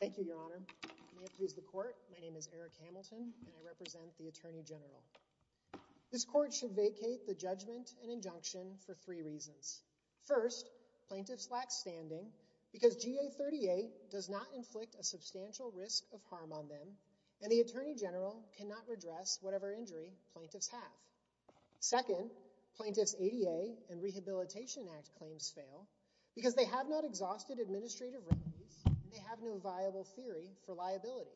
Thank you, Your Honor. May it please the Court, my name is Eric Hamilton and I represent the Attorney General. This Court should vacate the judgment and injunction for three reasons. First, plaintiffs lack standing because GA 38 does not inflict a substantial risk of harm on them and the Attorney General cannot redress whatever injury plaintiffs have. Second, plaintiffs' ADA and Rehabilitation Act claims fail because they have not exhausted administrative revenues and they have no viable theory for liability.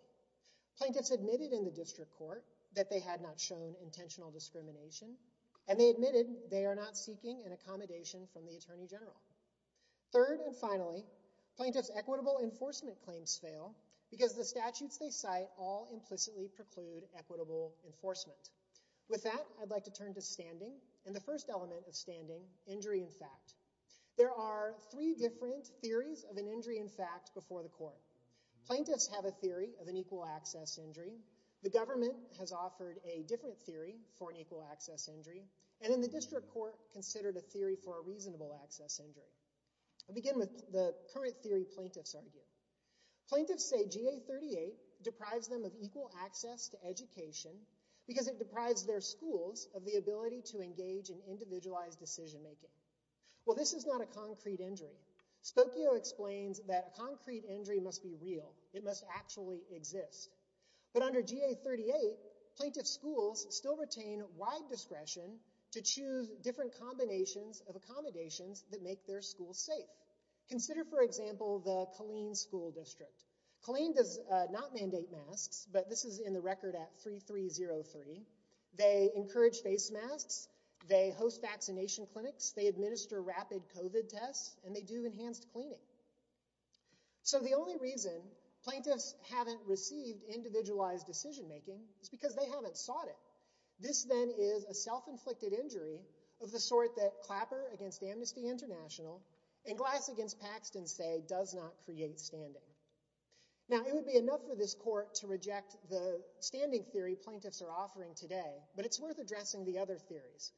Plaintiffs admitted in the District Court that they had not shown intentional discrimination and they admitted they are not seeking an accommodation from the Attorney General. Third and finally, plaintiffs' equitable enforcement claims fail because the statutes they cite all implicitly preclude equitable enforcement. With that, I'd like to turn to standing and the first element of standing, injury in fact. There are three different theories of an injury in fact before the Court. Plaintiffs have a theory of an equal access injury, the government has offered a different theory for an equal access injury and in the District Court considered a theory for a reasonable access injury. I'll begin with the current theory plaintiffs argue. Plaintiffs say GA 38 deprives them of equal access to education because it deprives their schools of the ability to engage in individualized decision making. Well, this is not a concrete injury. Spokio explains that a concrete injury must be real, it must actually exist, but under GA 38 plaintiff schools still retain wide discretion to choose different combinations of accommodations that make their safe. Consider for example the Killeen School District. Killeen does not mandate masks, but this is in the record at 3303. They encourage face masks, they host vaccination clinics, they administer rapid COVID tests, and they do enhanced cleaning. So the only reason plaintiffs haven't received individualized decision making is because they haven't sought it. This then is a and Glass against Paxton say does not create standing. Now it would be enough for this court to reject the standing theory plaintiffs are offering today, but it's worth addressing the other theories.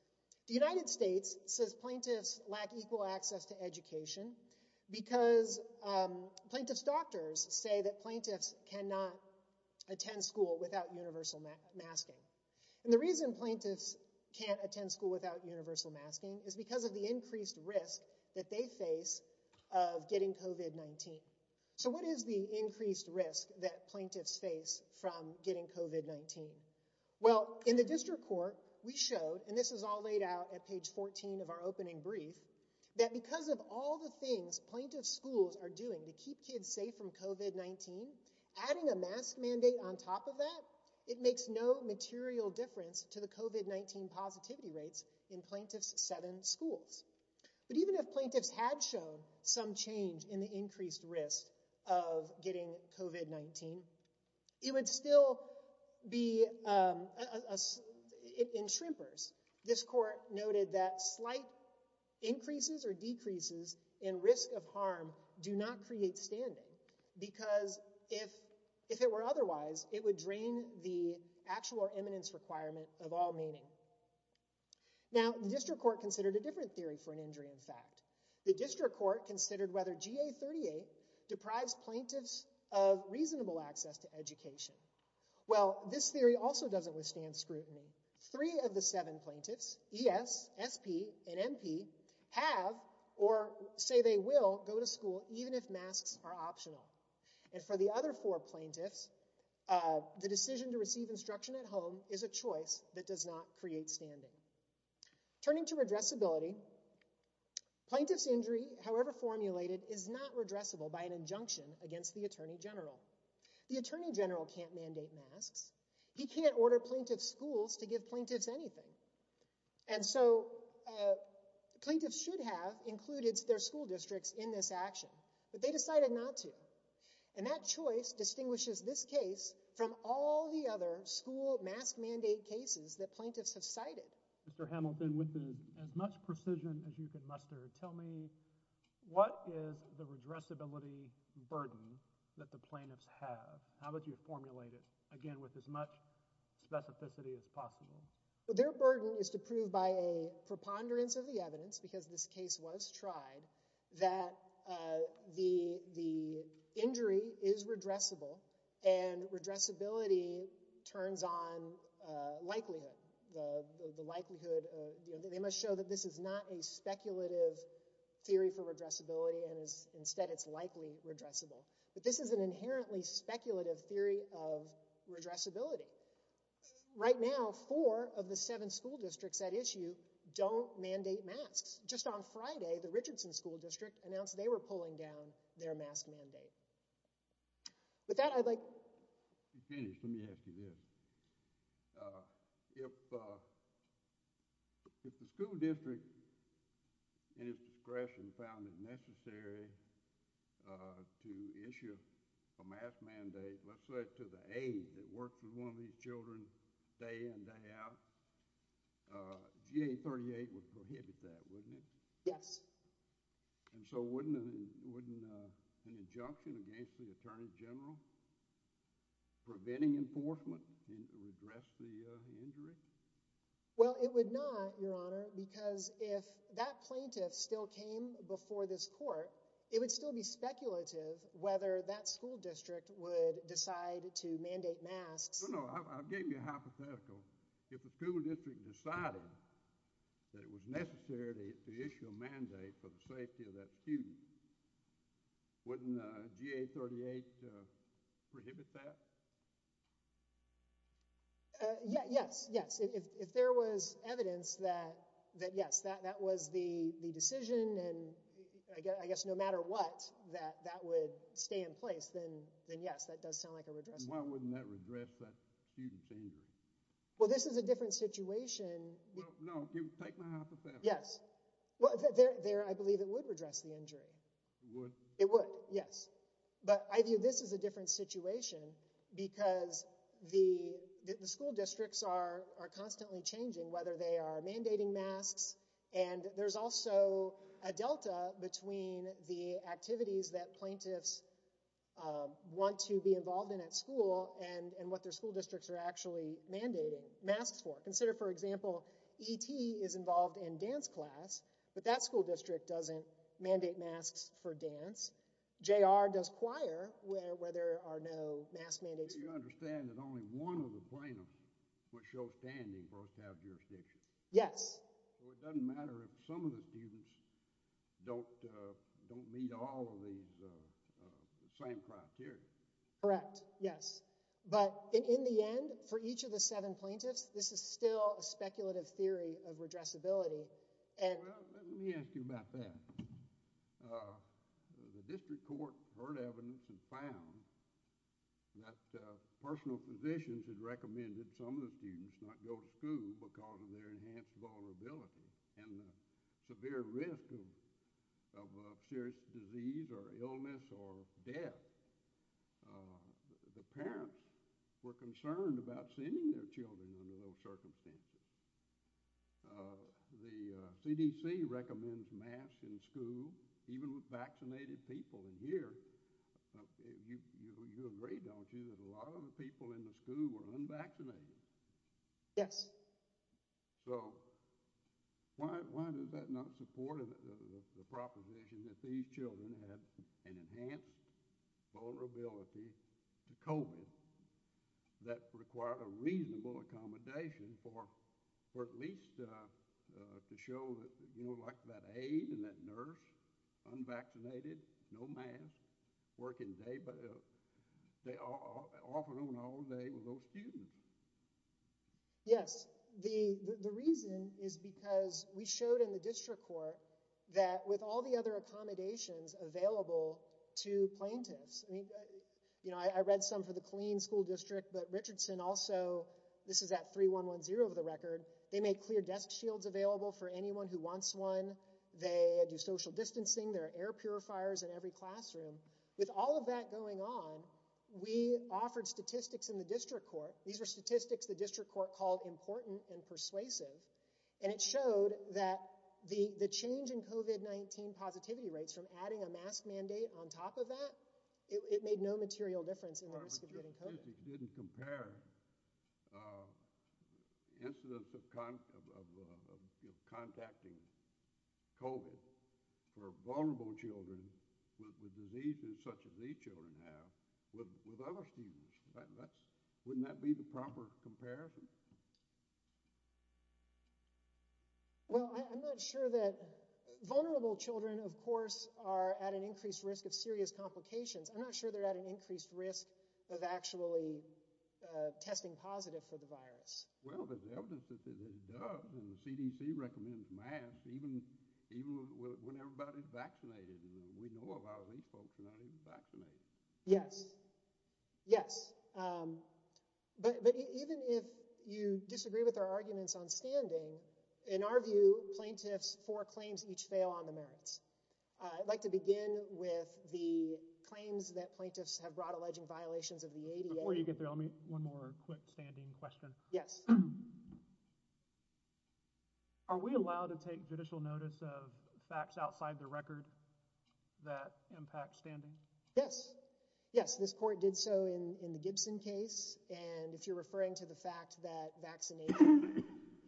The United States says plaintiffs lack equal access to education because plaintiff's doctors say that plaintiffs cannot attend school without universal masking. And the reason plaintiffs can't attend school without universal masking is because of the face of getting COVID-19. So what is the increased risk that plaintiffs face from getting COVID-19? Well in the district court we showed, and this is all laid out at page 14 of our opening brief, that because of all the things plaintiff schools are doing to keep kids safe from COVID-19, adding a mask mandate on top of that, it makes no material difference to the COVID-19 positivity rates in plaintiff's seven schools. But even if plaintiffs had shown some change in the increased risk of getting COVID-19, it would still be in shrimpers. This court noted that slight increases or decreases in risk of harm do not create standing because if it were otherwise, it would drain the actual or eminence requirement of all meaning. Now the district court considered a different theory for an injury in fact. The district court considered whether GA38 deprives plaintiffs of reasonable access to education. Well this theory also doesn't withstand scrutiny. Three of the seven plaintiffs, ES, SP, and MP, have or say they will go to school even if the decision to receive instruction at home is a choice that does not create standing. Turning to redressability, plaintiff's injury, however formulated, is not redressable by an injunction against the attorney general. The attorney general can't mandate masks. He can't order plaintiff schools to give plaintiffs anything. And so plaintiffs should have included their school districts in this action, but they decided not to. And that choice distinguishes this case from all the other school mask mandate cases that plaintiffs have cited. Mr. Hamilton, with as much precision as you can muster, tell me what is the redressability burden that the plaintiffs have? How would you formulate it? Again, with as much specificity as possible. Well their burden is to prove by a preponderance of the evidence, because this case was tried, that the injury is redressable and redressability turns on likelihood. The likelihood, they must show that this is not a speculative theory for redressability and instead it's likely redressable. But this is an inherently speculative theory of redressability. Right now, four of the seven school districts at issue don't mandate masks. Just on Friday, the Richardson School District announced they were pulling down their mask mandate. With that, I'd like to finish. Let me ask you this. If the school district, in its discretion, found it necessary to issue a mask mandate, let's say to the aide that works with one of these children day in and day out, GA38 would an injunction against the Attorney General preventing enforcement and redress the injury? Well, it would not, Your Honor, because if that plaintiff still came before this court, it would still be speculative whether that school district would decide to mandate masks. No, no. I'll give you a hypothetical. If the school district decided that it was necessary to issue a mandate for the safety of that student, wouldn't GA38 prohibit that? Yes, yes. If there was evidence that yes, that was the decision and I guess no matter what, that that would stay in place, then yes, that does sound like a redressable. Why wouldn't that redress that student's injury? Well, this is a different situation. No, take my hypothetical. Yes. Well, I believe it would redress the injury. It would, yes. But I view this as a different situation because the school districts are constantly changing, whether they are mandating masks and there's also a delta between the activities that plaintiffs want to be involved in at school and what their school districts are mandating masks for. Consider, for example, E.T. is involved in dance class, but that school district doesn't mandate masks for dance. J.R. does choir where there are no mask mandates. You understand that only one of the plaintiffs would show standing both have jurisdiction. Yes. So it doesn't matter if some of the students don't meet all of these same criteria. Correct. Yes. But in the end, for each of the seven plaintiffs, this is still a speculative theory of redressability. And let me ask you about that. The district court heard evidence and found that personal physicians had recommended some of the students not go to school because of their enhanced vulnerability and severe risk of serious disease or illness or death. The parents were concerned about sending their children under those circumstances. The CDC recommends masks in school, even with vaccinated people in here. You agree, don't you, that a lot of the people in the school were unvaccinated? Yes. So why does that not support the proposition that these children have an enhanced vulnerability to COVID that require a reasonable accommodation for at least to show that, you know, like that aid and that nurse, unvaccinated, no mask, working day, but student? Yes. The reason is because we showed in the district court that with all the other accommodations available to plaintiffs, I mean, you know, I read some for the clean school district, but Richardson also, this is at 3-1-1-0 of the record. They make clear desk shields available for anyone who wants one. They do social distancing. There are air purifiers in every classroom. With all of that going on, we offered statistics in the district court. These are statistics the district court called important and persuasive. And it showed that the, the change in COVID-19 positivity rates from adding a mask mandate on top of that, it made no material difference. The statistics didn't compare incidents of contacting COVID for vulnerable children with diseases such as these children have with other students. Wouldn't that be the proper comparison? Well, I'm not sure that vulnerable children, of course, are at an increased risk of serious of actually testing positive for the virus. Well, there's evidence that it does, and the CDC recommends masks, even when everybody's vaccinated. We know a lot of these folks are not even vaccinated. Yes. Yes. But even if you disagree with our arguments on standing, in our view, plaintiffs for claims each fail on the merits. I'd like to begin with the claims that plaintiffs have brought alleging violations of the ADA. Before you get there, let me one more quick standing question. Yes. Are we allowed to take judicial notice of facts outside the record that impact standing? Yes. Yes. This court did so in the Gibson case. And if you're referring to the fact that vaccination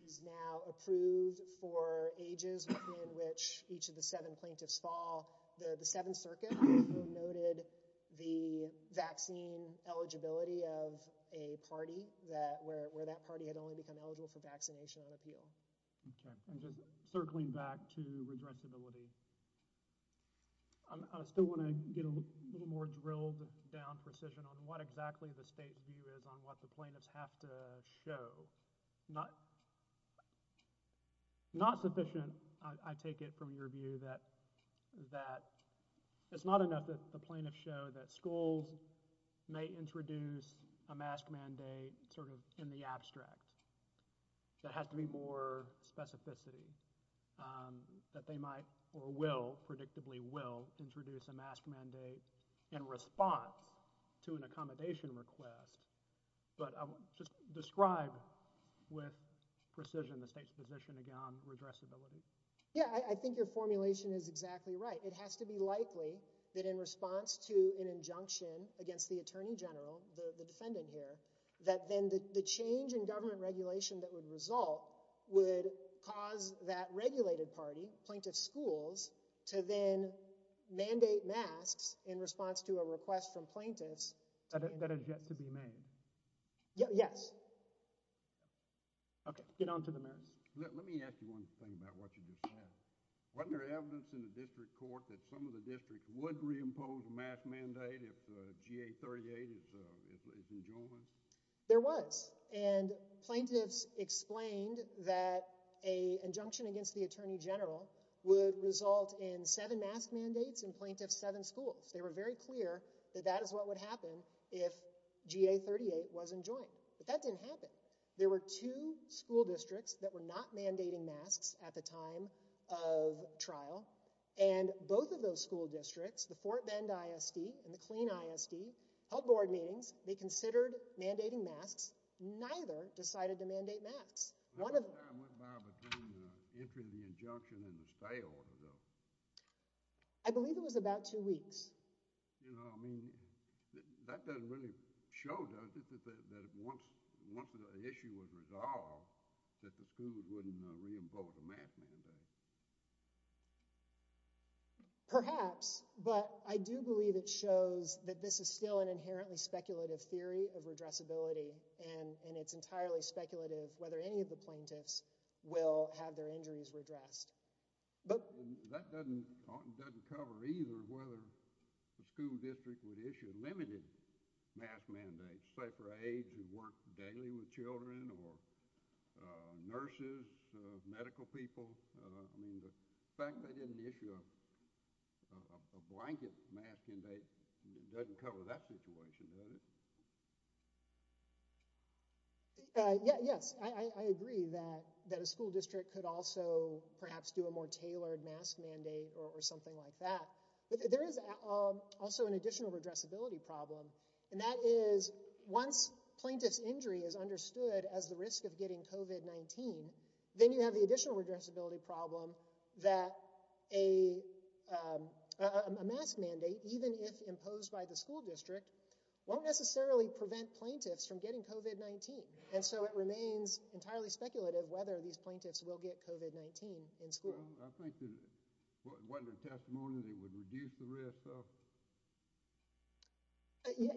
is now approved for ages in which each of the seven plaintiffs fall, the Seventh Circuit noted the vaccine eligibility of a party that where where that party had only become eligible for vaccination on appeal. Circling back to redressability. I still want to get a little more drilled down precision on what exactly the state view is on what the plaintiffs have to show. Not. Not sufficient. I take it from your view that that it's not enough that the plaintiffs show that schools may introduce a mask mandate sort of in the abstract. That has to be more specificity that they might or will predictably will introduce a mask mandate in response to an accommodation request. But just describe with precision the state's position again on redressability. Yeah, I think your formulation is exactly right. It has to be likely that in response to an injunction against the attorney general, the defendant here, that then the change in government regulation that would result would cause that regulated party, plaintiff schools, to then mandate masks in response to a request from plaintiffs. That has yet to be made. Yes. Okay, get on to the mask. Let me ask you one thing about what you just said. Wasn't there evidence in the district court that some of the districts would reimpose a mask mandate if GA 38 is enjoined? There was. And plaintiffs explained that an injunction against the attorney general would result in seven mask mandates in plaintiff's seven schools. They were very clear that that is what would happen if GA 38 wasn't joined. But that didn't happen. There were two school districts that were not mandating masks at the time of trial. And both of those school districts, the Fort Bend ISD and the Clean ISD, held board meetings. They considered mandating masks. Neither decided to mandate masks. How much time went by between the entry of the injunction and the stay order, though? I believe it was about two weeks. You know, I mean, that doesn't really show, does it, that once the issue was resolved that the schools wouldn't reimpose a mask mandate? Perhaps, but I do believe it shows that this is still an inherently speculative theory of and it's entirely speculative whether any of the plaintiffs will have their injuries redressed. That doesn't cover either whether the school district would issue limited mask mandates, say for aides who work daily with children or nurses, medical people. I mean, the fact they didn't issue a blanket mask mandate doesn't cover that situation, does it? Yeah, yes, I agree that a school district could also perhaps do a more tailored mask mandate or something like that. But there is also an additional redressability problem, and that is once plaintiff's injury is understood as the risk of getting COVID-19, then you have the additional redressability problem that a mask mandate, even if imposed by the school district, won't necessarily prevent plaintiffs from getting COVID-19. And so it remains entirely speculative whether these plaintiffs will get COVID-19 in school. I think that wasn't a testimony that it would reduce the risk of?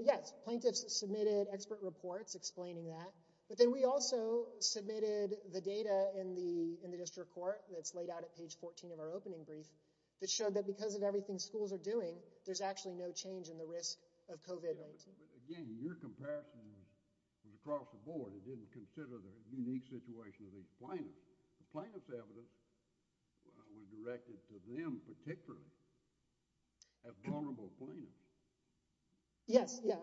Yes, plaintiffs submitted expert reports explaining that, but then we also submitted the data in the in the district court that's laid out at page 14 of our opening brief that showed that because of everything schools are doing, there's actually no change in the risk of COVID-19. Again, your comparison was across the board. It didn't consider the unique situation of these plaintiffs. The plaintiff's evidence was directed to them particularly as vulnerable plaintiffs. Yes, yeah,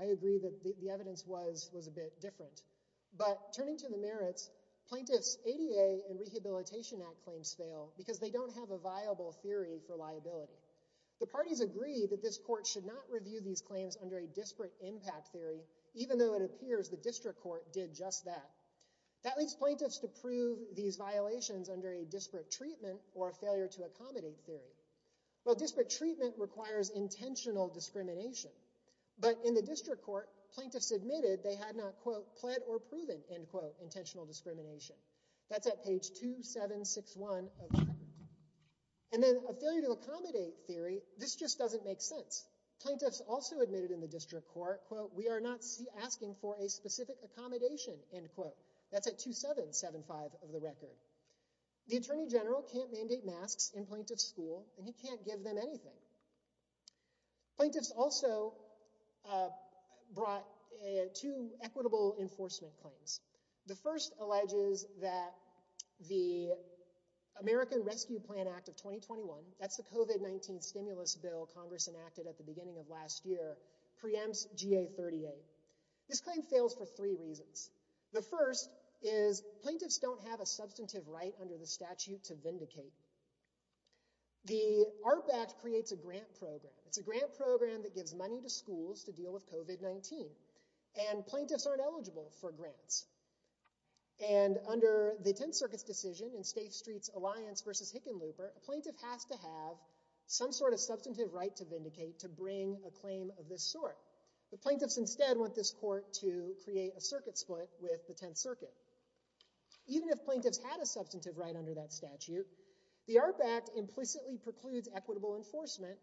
I agree that the evidence was a bit different. But turning to the merits, plaintiffs ADA and Rehabilitation Act claims fail because they don't have a viable theory for liability. The parties agree that this court should not review these claims under a disparate impact theory, even though it appears the district court did just that. That leads plaintiffs to prove these violations under a disparate treatment or a failure to accommodate theory. Well, disparate treatment requires intentional discrimination. But in the district court, plaintiffs admitted they had not, quote, pled or proven, end quote, intentional discrimination. That's at page 2761. And then a failure to accommodate theory, this just doesn't make sense. Plaintiffs also admitted in the district court, quote, we are not asking for a specific accommodation, end quote. That's at 2775 of the record. The Attorney General can't mandate masks in plaintiff's school and he can't give them anything. Plaintiffs also brought two equitable enforcement claims. The first alleges that the American Rescue Plan Act of 2021, that's the COVID-19 stimulus bill Congress enacted at the beginning of last year, preempts GA38. This claim fails for three reasons. The first is plaintiffs don't have a substantive right under the statute to vindicate. The ARP Act creates a grant program. It's a grant program that gives money to schools to deal with COVID-19. And plaintiffs aren't eligible for grants. And under the Tenth Circuit's decision in State Streets Alliance versus Hickenlooper, a plaintiff has to have some sort of substantive right to vindicate to bring a claim of this sort. The plaintiffs instead want this court to create a circuit split with the Tenth Circuit. Even if plaintiffs had a substantive right under that statute, the ARP Act implicitly precludes equitable enforcement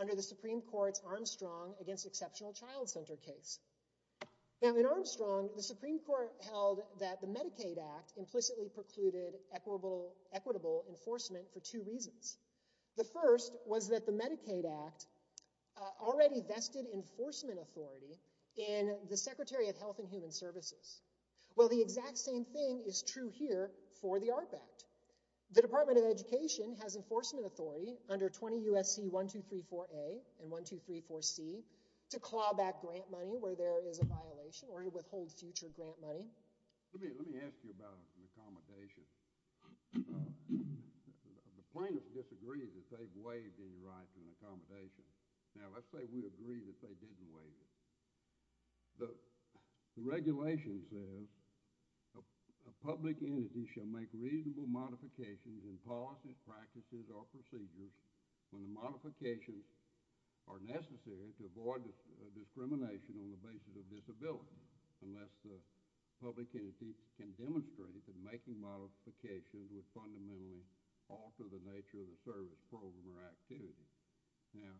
under the Supreme Court's Armstrong against Exceptional Child Center case. Now in Armstrong, the Supreme Court held that the Medicaid Act implicitly precluded equitable enforcement for two reasons. The first was that the Medicaid Act already vested enforcement authority in the Secretary of Health and Human The Department of Education has enforcement authority under 20 U.S.C. 1234A and 1234C to claw back grant money where there is a violation or to withhold future grant money. Let me ask you about an accommodation. The plaintiffs disagreed that they waived any right to an accommodation. Now let's say we agree that they didn't waive it. The regulation says a public entity shall make reasonable modifications in policies, practices, or procedures when the modifications are necessary to avoid discrimination on the basis of disability unless the public entity can demonstrate that making modifications would fundamentally alter the nature of the service program or activity. Now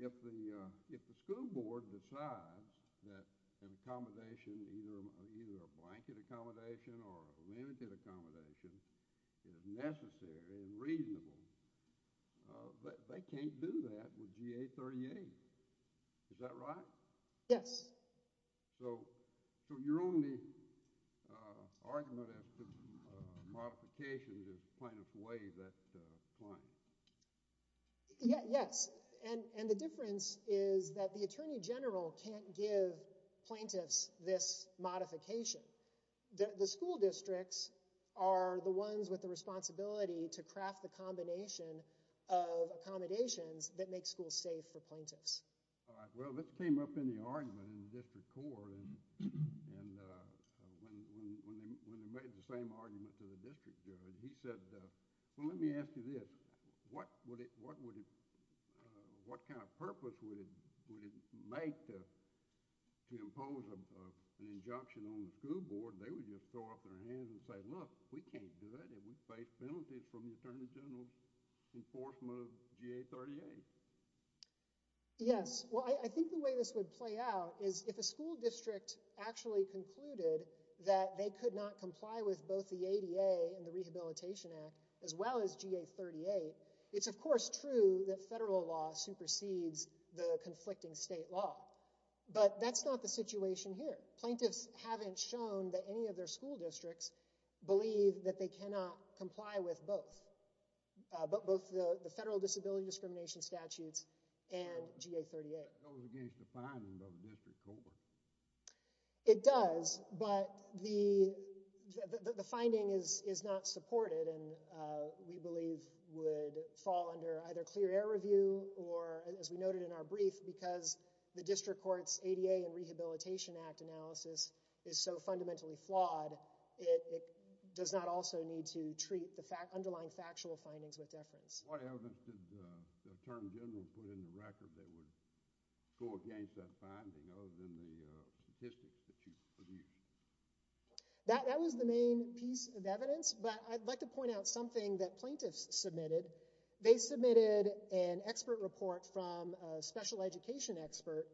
if the school board decides that an accommodation, either a blanket accommodation or a limited accommodation, is necessary and reasonable, they can't do that with GA38. Is that right? Yes. So your only argument as to modifications is plaintiffs waive that claim. Yes, and the difference is that the Attorney General can't give plaintiffs this modification. The school districts are the ones with the responsibility to craft the combination of accommodations that make the school safe for plaintiffs. All right. Well, this came up in the argument in the District Court and when they made the same argument to the district, he said, well, let me ask you this, what kind of purpose would it make to impose an injunction on the school board? They would just throw up their hands and say, look, we can't do that and we face penalties from the Yes, well, I think the way this would play out is if a school district actually concluded that they could not comply with both the ADA and the Rehabilitation Act as well as GA38, it's of course true that federal law supersedes the conflicting state law, but that's not the situation here. Plaintiffs haven't shown that any of their school districts believe that they cannot statutes and GA38. It does, but the finding is not supported and we believe would fall under either clear air review or as we noted in our brief, because the District Court's ADA and Rehabilitation Act analysis is so fundamentally flawed, it does not also need to treat the term general put in the record that would go against that finding other than the statistics that you produced. That was the main piece of evidence, but I'd like to point out something that plaintiffs submitted. They submitted an expert report from a special education expert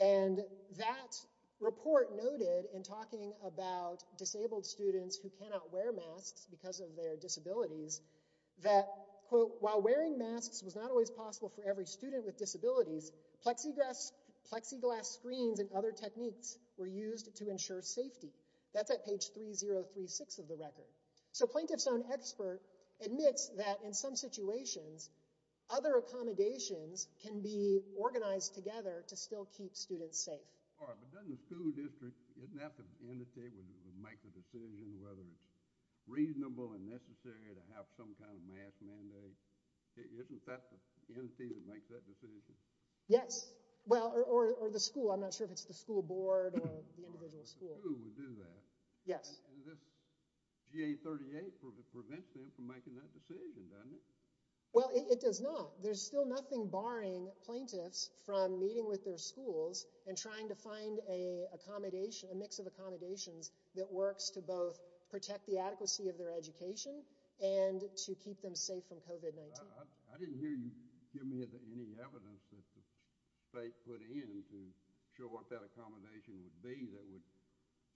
and that report noted in talking about disabled students who cannot wear masks because of their was not always possible for every student with disabilities. Plexiglass screens and other techniques were used to ensure safety. That's at page 3036 of the record. So, plaintiff's own expert admits that in some situations, other accommodations can be organized together to still keep students safe. All right, but doesn't the school district, doesn't that have to indicate, would make the decision whether it's reasonable and necessary to have some kind of mandate? Isn't that the entity that makes that decision? Yes, well, or the school. I'm not sure if it's the school board or the individual school. Who would do that? Yes. This GA38 prevents them from making that decision, doesn't it? Well, it does not. There's still nothing barring plaintiffs from meeting with their schools and trying to find a accommodation, a mix of accommodations that works to both protect the adequacy of their education and to keep them safe from COVID-19. I didn't hear you give me any evidence that the state put in to show what that accommodation would be that would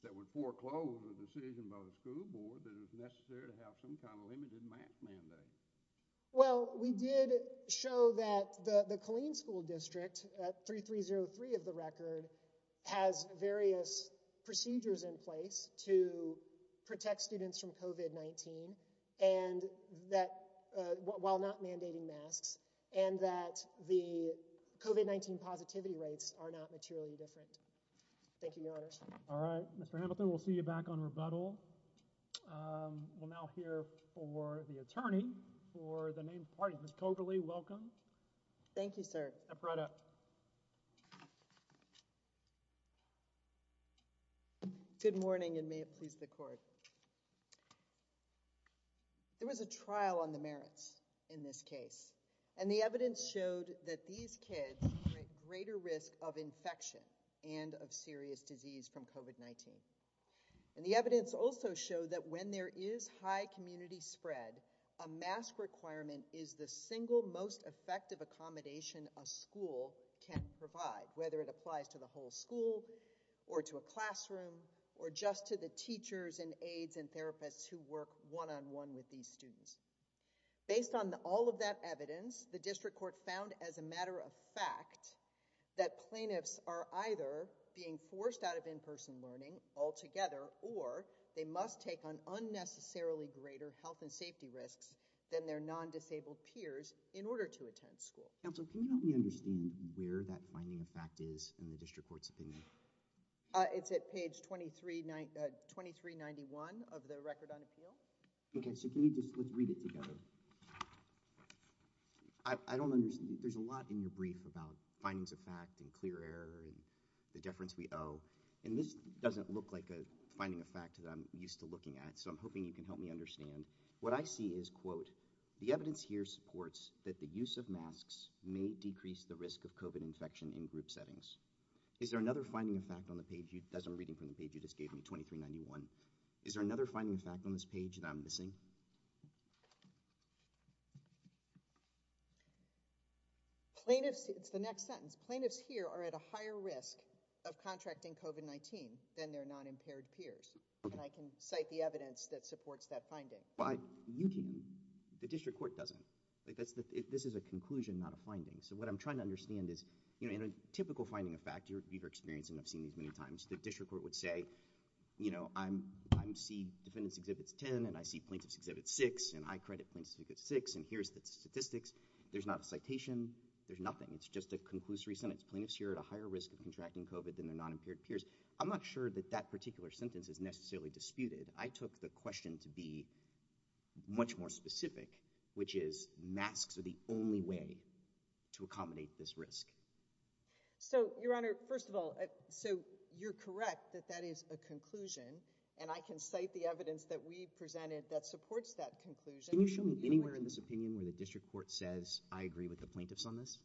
that would foreclose a decision by the school board that is necessary to have some kind of limited mask mandate. Well, we did show that the the Killeen School District at 3303 of the record has various procedures in place to protect students from COVID-19 and that while not mandating masks and that the COVID-19 positivity rates are not materially different. Thank you, your honors. All right, Mr. Hamilton, we'll see you back on rebuttal. We'll now hear for the attorney for the main party. Ms. Cokerley, welcome. Thank you, sir. Good morning and may it please the court. There was a trial on the merits in this case and the evidence showed that these kids are at greater risk of infection and of serious disease from COVID-19. And the evidence also showed that when there is high community spread, a mask requirement is the single most effective accommodation a school can provide, whether it applies to the whole school or to a classroom or just to the teachers and aides and therapists who work one-on-one with these students. Based on all of that evidence, the district court found as a matter of fact that plaintiffs are either being forced out of in-person learning altogether or they must take on unnecessarily greater health and safety risks than their non-disabled peers in order to attend school. Counsel, can you help me understand where that finding of fact is in the district court's opinion? It's at page 2391 of the record on appeal. Okay, so can you just let's read it together. I don't understand. There's a lot in your brief about findings of fact and clear error and the deference we owe and this doesn't look like a finding of fact that I'm used to looking at, so I'm hoping you can help me understand. What I see is, quote, the evidence here supports that the use of masks may decrease the risk of COVID infection in group settings. Is there another finding of fact on the page you, as I'm reading from the page you just gave me, 2391, is there another finding of fact on this page that I'm missing? Plaintiffs, it's the next sentence. Plaintiffs here are at a higher risk of contracting COVID-19 than their non-impaired peers and I can cite the evidence that supports that finding. The district court doesn't. This is a conclusion, not a finding, so what I'm trying to understand is, you know, in a typical finding of fact, you've experienced and I've seen these many times, the district court would say, you know, I see defendants exhibits 10 and I see plaintiffs exhibit 6 and I credit plaintiffs exhibit 6 and here's the statistics. There's not a citation. There's nothing. It's just a conclusory sentence. Plaintiffs here at a higher risk of contracting COVID than their non-impaired peers. I'm not sure that that particular sentence is necessarily disputed. I took the question to be much more specific, which is masks are the only way to accommodate this risk. So, your honor, first of all, so you're correct that that is a conclusion and I can cite the evidence that we presented that supports that conclusion. Can you show me anywhere in this opinion where the district court says I agree with the plaintiffs on this?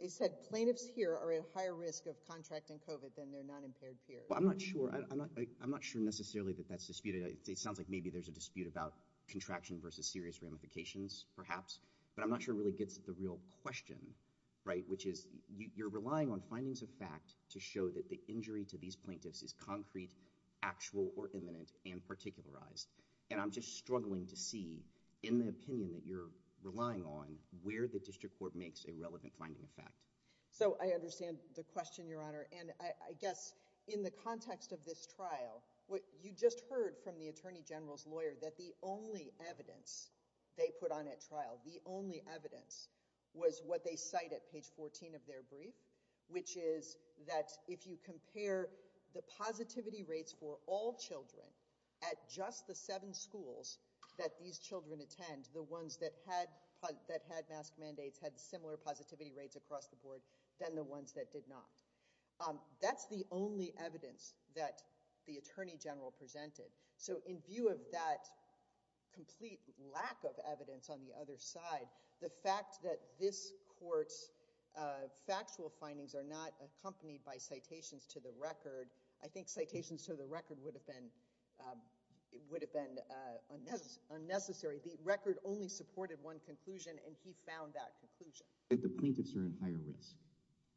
They said plaintiffs here are at higher risk of contracting COVID than their non-impaired peers. Well, I'm not sure. I'm not sure necessarily that that's disputed. It sounds like maybe there's a dispute about contraction versus serious ramifications, perhaps, but I'm not sure it really gets at the real question, right, which is you're relying on findings of fact to show that the injury to these plaintiffs is concrete, actual, or imminent and particularized and I'm just struggling to see in the opinion that you're relying on where the district court makes a relevant finding of fact. So, I understand the question, your honor, and I guess in the context of this trial what you just heard from the attorney general's lawyer that the only evidence they put on at trial, the only evidence was what they cite at page 14 of their brief, which is that if you compare the positivity rates for all children at just the seven schools that these children attend, the ones that had that had mask mandates had similar positivity rates across the board than the ones that did not. That's the only evidence that the attorney general presented. So, in view of that complete lack of evidence on the other side, the fact that this court's factual findings are not accompanied by citations to the record, I think citations to the record would have been unnecessary. The record only supported one conclusion and he found that conclusion. That the plaintiffs are at higher risk.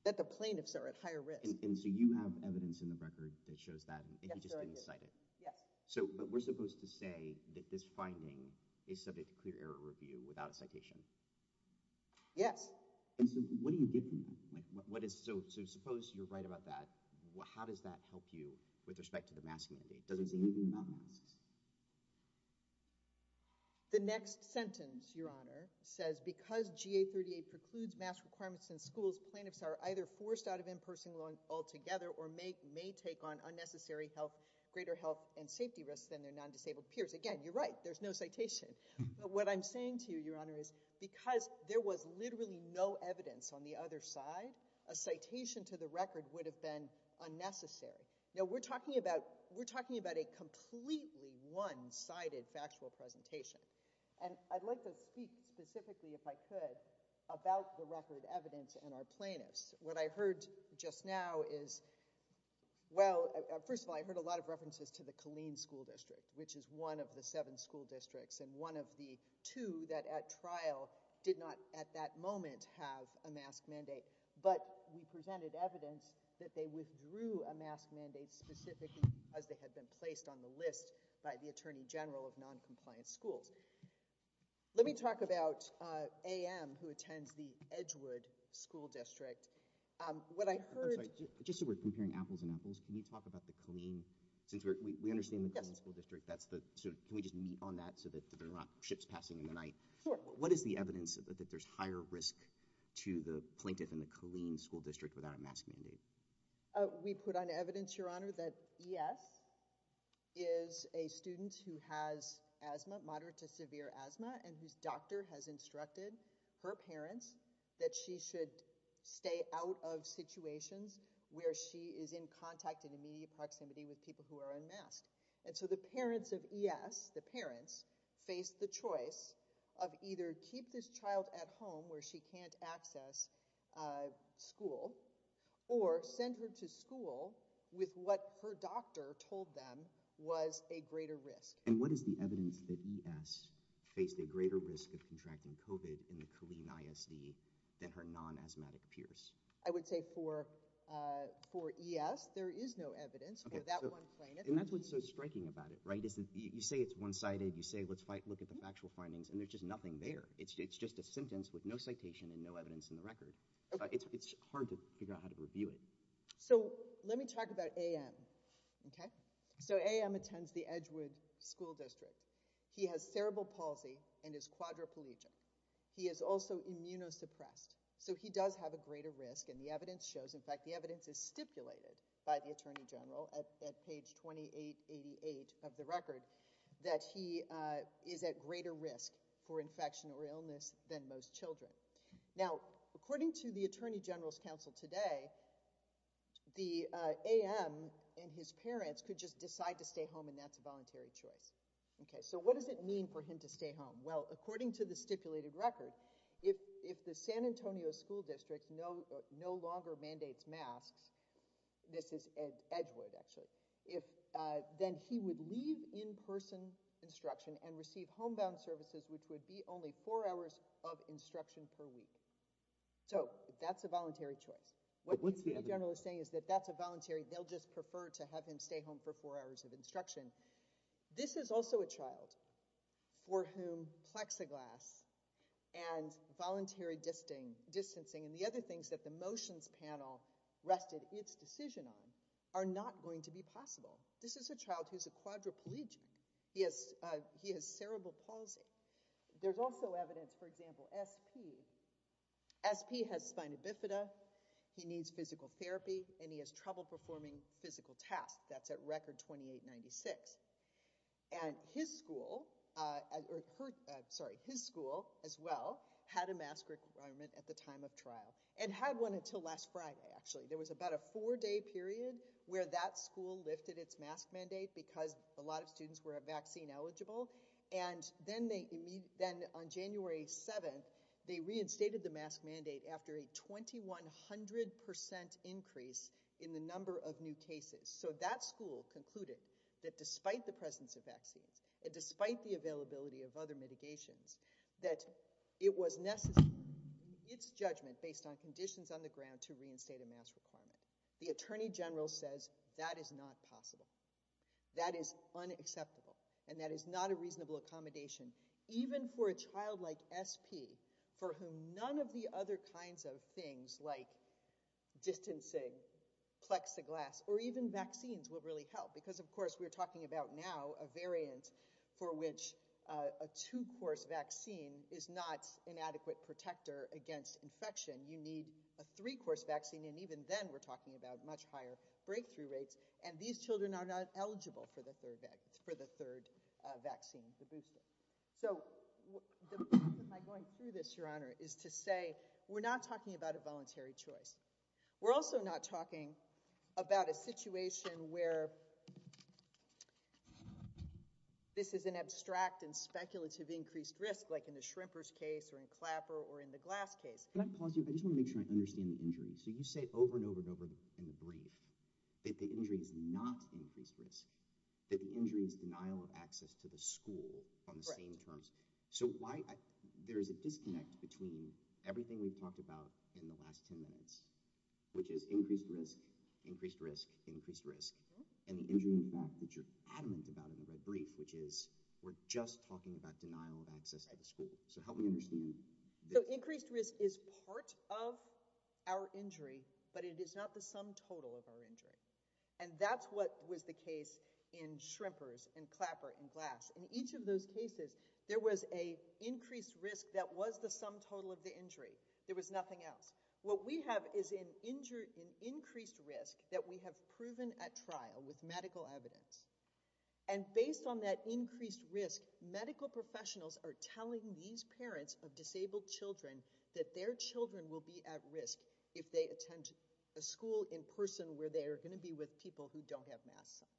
That the plaintiffs are at higher risk. And so, you have evidence in the record that shows that and you just didn't cite it. Yes. So, but we're supposed to say that this finding is subject to clear error review without a citation. Yes. And so, what do you get from that? So, suppose you're right about that, how does that help you with respect to the mask mandate? The next sentence, your honor, says because GA38 precludes mask requirements in schools, plaintiffs are either forced out of in-person learning altogether or may take on unnecessary health, greater health and safety risks than their non-disabled peers. Again, you're right, there's no citation. But what I'm saying to you, your honor, is because there was literally no a citation to the record would have been unnecessary. Now, we're talking about, we're talking about a completely one-sided factual presentation. And I'd like to speak specifically, if I could, about the record evidence and our plaintiffs. What I heard just now is, well, first of all, I heard a lot of references to the Killeen School District, which is one of the but we presented evidence that they withdrew a mask mandate specifically as they had been placed on the list by the Attorney General of non-compliant schools. Let me talk about AM, who attends the Edgewood School District. What I heard— I'm sorry, just so we're comparing apples and apples, can we talk about the Killeen? Since we understand the Killeen School District, that's the, so can we just meet on that so that there are not ships passing in the night? Sure. What is the evidence that there's higher risk to the plaintiff in the Killeen School District without a mask mandate? We put on evidence, your honor, that ES is a student who has asthma, moderate to severe asthma, and whose doctor has instructed her parents that she should stay out of situations where she is in contact and immediate proximity with people who are unmasked. And so the parents of ES, the parents, faced the choice of either keep this child at home where she can't access school or send her to school with what her doctor told them was a greater risk. And what is the evidence that ES faced a greater risk of contracting COVID in the Killeen ISD than her non-asthmatic peers? I would say for ES, there is no evidence for that one plaintiff. That's what's so striking about it, right? You say it's one-sided, you say, let's fight, look at the factual findings, and there's just nothing there. It's just a sentence with no citation and no evidence in the record. It's hard to figure out how to review it. So let me talk about AM, okay? So AM attends the Edgewood School District. He has cerebral palsy and is quadriplegic. He is also immunosuppressed. So he does have a greater risk and the evidence is stipulated by the Attorney General at page 2888 of the record that he is at greater risk for infection or illness than most children. Now, according to the Attorney General's counsel today, the AM and his parents could just decide to stay home and that's a voluntary choice. Okay, so what does it mean for him to stay home? Well, according to the stipulated record, if the San Antonio School District no longer mandates masks, this is Edgewood actually, if then he would leave in-person instruction and receive homebound services, which would be only four hours of instruction per week. So that's a voluntary choice. What the Attorney General is saying is that that's a voluntary, they'll just prefer to have him stay home for four hours of voluntary distancing and the other things that the motions panel rested its decision on are not going to be possible. This is a child who's a quadriplegic. He has cerebral palsy. There's also evidence, for example, SP. SP has spina bifida, he needs physical therapy, and he has trouble performing physical tasks. That's at record 2896. And his school, sorry, his school as well had a mask requirement at the time of trial and had one until last Friday. Actually, there was about a four-day period where that school lifted its mask mandate because a lot of students were vaccine eligible. And then they, then on January 7th, they reinstated the mask mandate after a 5100% increase in the number of new cases. So that school concluded that despite the presence of vaccines and despite the availability of other mitigations, that it was necessary, its judgment based on conditions on the ground to reinstate a mask requirement. The Attorney General says that is not possible. That is unacceptable. And that is not a reasonable accommodation, even for a child like SP, for whom none of the other kinds of things like distancing, plexiglass, or even vaccines will really help. Because of course, we're talking about now a variant for which a two-course vaccine is not an adequate protector against infection. You need a three-course vaccine. And even then we're talking about much higher So, the purpose of my going through this, Your Honor, is to say we're not talking about a voluntary choice. We're also not talking about a situation where this is an abstract and speculative increased risk, like in the shrimpers case or in Clapper or in the glass case. Can I pause you? I just want to make sure I understand the injury. So you say over and over and over in the brief that the injury is not increased risk, that the injury is denial of access to the school on the same terms. So, there is a disconnect between everything we've talked about in the last 10 minutes, which is increased risk, increased risk, increased risk, and the injury in fact that you're adamant about in the red brief, which is we're just talking about denial of access at the school. So, help me understand. So, increased risk is part of our injury, but it is not the sum total of our injury. And that's what was the case in shrimpers and Clapper and Glass. In each of those cases, there was an increased risk that was the sum total of the injury. There was nothing else. What we have is an increased risk that we have proven at trial with medical evidence. And based on that increased risk, medical professionals are telling these parents of disabled children that their children will be at risk if they attend a school in person where they are going to be with people who don't have masks on.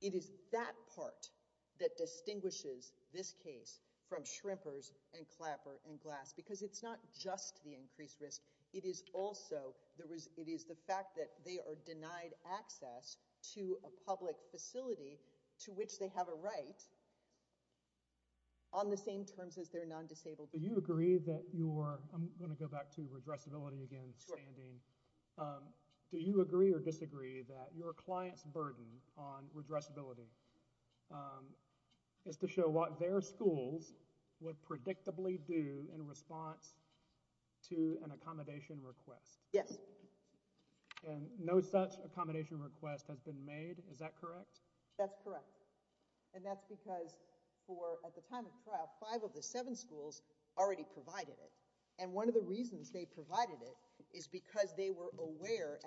It is that part that distinguishes this case from shrimpers and Clapper and Glass because it's not just the increased risk. It is also, there was, it is the fact that they are denied access to a public facility to which they have a right on the same terms as their non-disabled. Do you agree that you're, I'm going to go back to you. Do you agree or disagree that your client's burden on redressability is to show what their schools would predictably do in response to an accommodation request? Yes. And no such accommodation request has been made, is that correct? That's correct. And that's because for, at the time of trial, five of the seven schools already provided it. And one of the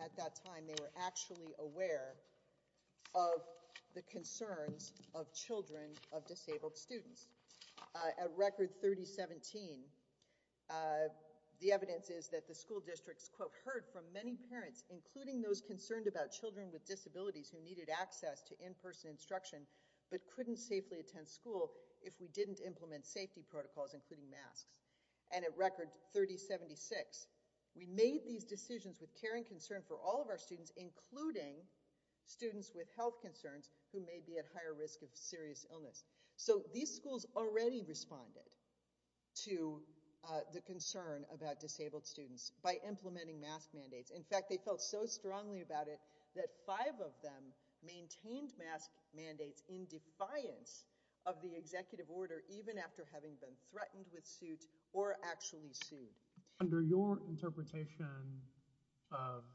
at that time, they were actually aware of the concerns of children of disabled students. At record 3017, the evidence is that the school districts quote, heard from many parents, including those concerned about children with disabilities who needed access to in-person instruction, but couldn't safely attend school if we didn't implement safety protocols, including masks. And at record 3076, we made these decisions with caring concern for all of our students, including students with health concerns who may be at higher risk of serious illness. So these schools already responded to the concern about disabled students by implementing mask mandates. In fact, they felt so strongly about it that five of them maintained mask mandates in defiance of the executive order, even after having been threatened with suit or actually sued. Under your interpretation of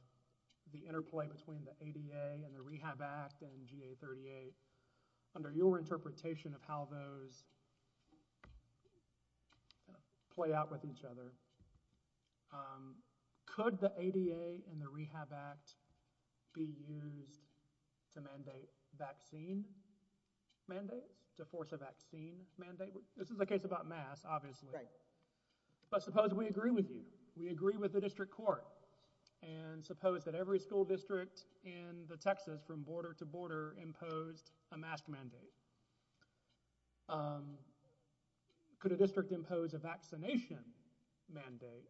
the interplay between the ADA and the Rehab Act and GA38, under your interpretation of how those play out with each other, could the ADA and the Rehab Act be used to mandate vaccine mandates, to force a vaccine mandate? This is a case about masks, obviously. But suppose we agree with you, we agree with the district court, and suppose that every school district in the Texas from border to border imposed a mask mandate. Could a district impose a vaccination mandate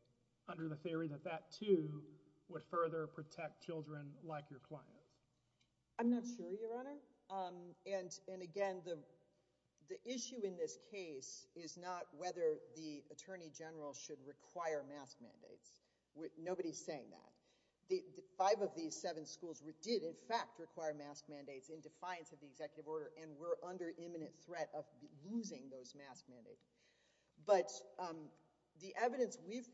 under the theory that that too would further protect children like your clients? I'm not sure, Your Honor. And again, the issue in this case is not whether the Attorney General should require mask mandates. Nobody's saying that. Five of these seven schools did in fact require mask mandates in defiance of the executive order and were under imminent threat of losing those mask mandates. But the evidence we've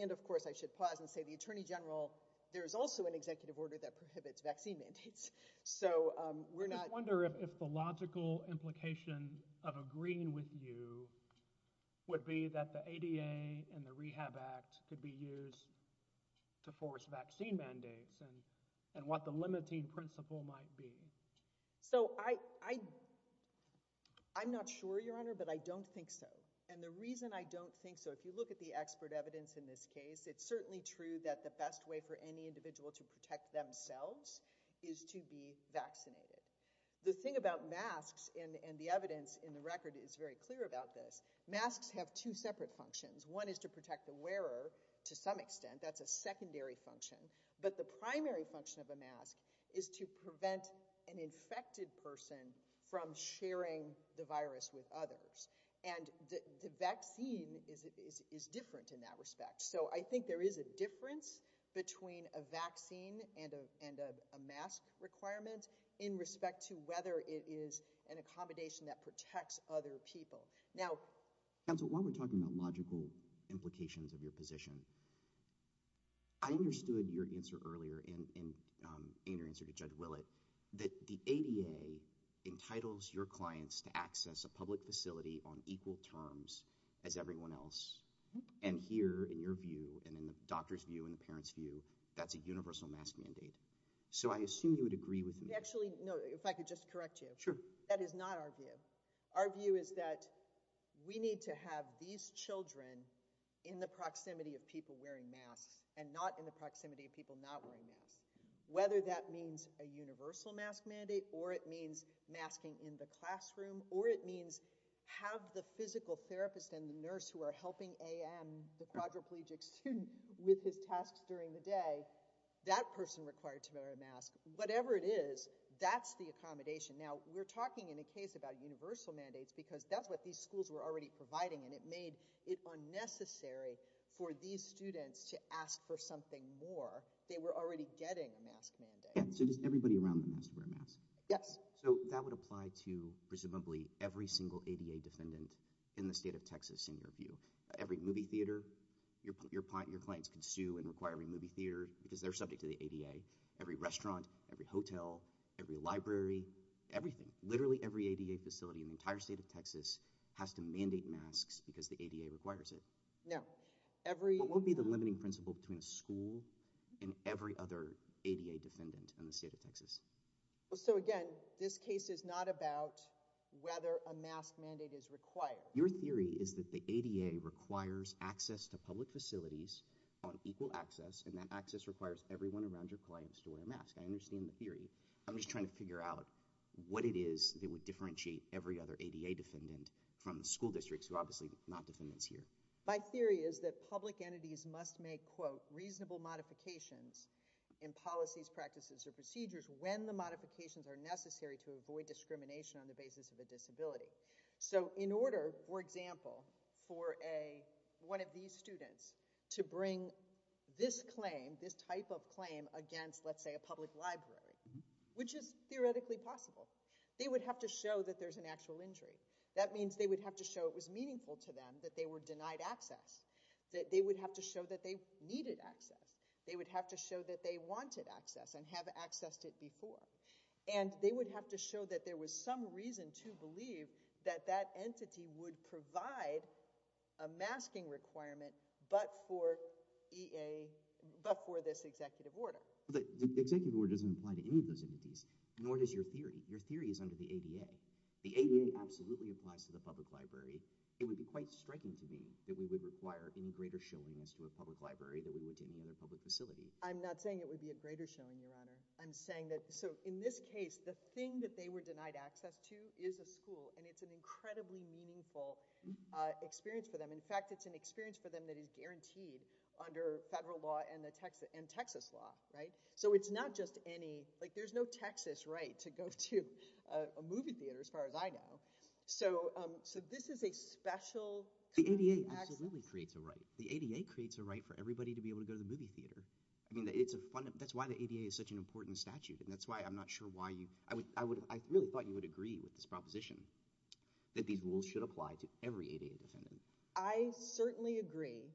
and of course, I should pause and say the Attorney General, there is also an executive order that prohibits vaccine mandates. So we're not wondering if the logical implication of agreeing with you would be that the ADA and the Rehab Act could be used to force vaccine mandates and what the limiting principle might be. So I'm not sure, Your Honor, but I don't think so. And the reason I don't think so, if you look at the expert evidence in this case, it's certainly true that the best way for any individual to protect themselves is to be vaccinated. The thing about masks and the evidence in the record is very clear about this. Masks have two separate functions. One is to protect the wearer to some extent. That's a secondary function. But the primary function of a mask is to prevent an infected person from sharing the virus with others. And the vaccine is different in that respect. So I think there is a difference between a vaccine and a mask requirement in respect to whether it is an accommodation that protects other people. Now, counsel, while we're talking about logical implications of your position, I understood your answer earlier in your answer to Judge Willett that the ADA entitles your clients to access a public facility on equal terms as everyone else. And here, in your view and in the doctor's view and the parents view, that's a universal mask mandate. So I assume you would agree with me. Actually, no, if I could just correct you. Sure. That is not our view. Our view is that we need to have these children in the proximity of people wearing masks and not in the proximity of people not wearing masks. Whether that means a universal mask mandate, or it means masking in the classroom, or it means have the physical therapist and the nurse who are helping the quadriplegic student with his tasks during the day, that person required to wear a mask, whatever it is, that's the accommodation. Now, we're talking in a case about universal mandates because that's what these schools were already providing. And it made it unnecessary for these students to ask for something more. They were already getting a mask mandate. So does everybody around them have to wear a mask? Yes. So that would apply to presumably every single ADA defendant in the state of Texas in your view. Every movie theater, your clients can sue and require every movie theater because they're subject to the ADA. Every restaurant, every hotel, every library, everything, literally every ADA facility in the entire state of Texas has to mandate masks because the ADA requires it. No. What would be the limiting principle between a school and every other ADA defendant in the state of Texas? Well, so again, this case is not about whether a mask mandate is required. Your theory is that the ADA requires access to public facilities on equal access, and that access requires everyone around your clients to wear a mask. I understand the theory. I'm just trying to figure out what it is that would differentiate every other ADA defendant from the school not defendants here. My theory is that public entities must make, quote, reasonable modifications in policies, practices, or procedures when the modifications are necessary to avoid discrimination on the basis of a disability. So in order, for example, for one of these students to bring this claim, this type of claim against, let's say, a public library, which is theoretically possible, they would have to show that there's an actual injury. That means they would have to show it meaningful to them that they were denied access. That they would have to show that they needed access. They would have to show that they wanted access and have accessed it before. And they would have to show that there was some reason to believe that that entity would provide a masking requirement but for this executive order. The executive order doesn't apply to any of those entities, nor does your theory. Your theory is that it would be quite striking to me that we would require any greater showing as to a public library than we would to any other public facility. I'm not saying it would be a greater showing, Your Honor. I'm saying that, so in this case, the thing that they were denied access to is a school and it's an incredibly meaningful experience for them. In fact, it's an experience for them that is guaranteed under federal law and Texas law, right? So it's not just any, like there's no Texas right to go to a movie theater as far as I know. So this is a special kind of access. The ADA absolutely creates a right. The ADA creates a right for everybody to be able to go to the movie theater. I mean, that's why the ADA is such an important statute and that's why I'm not sure why you, I really thought you would agree with this proposition that these rules should apply to every ADA defendant. I certainly agree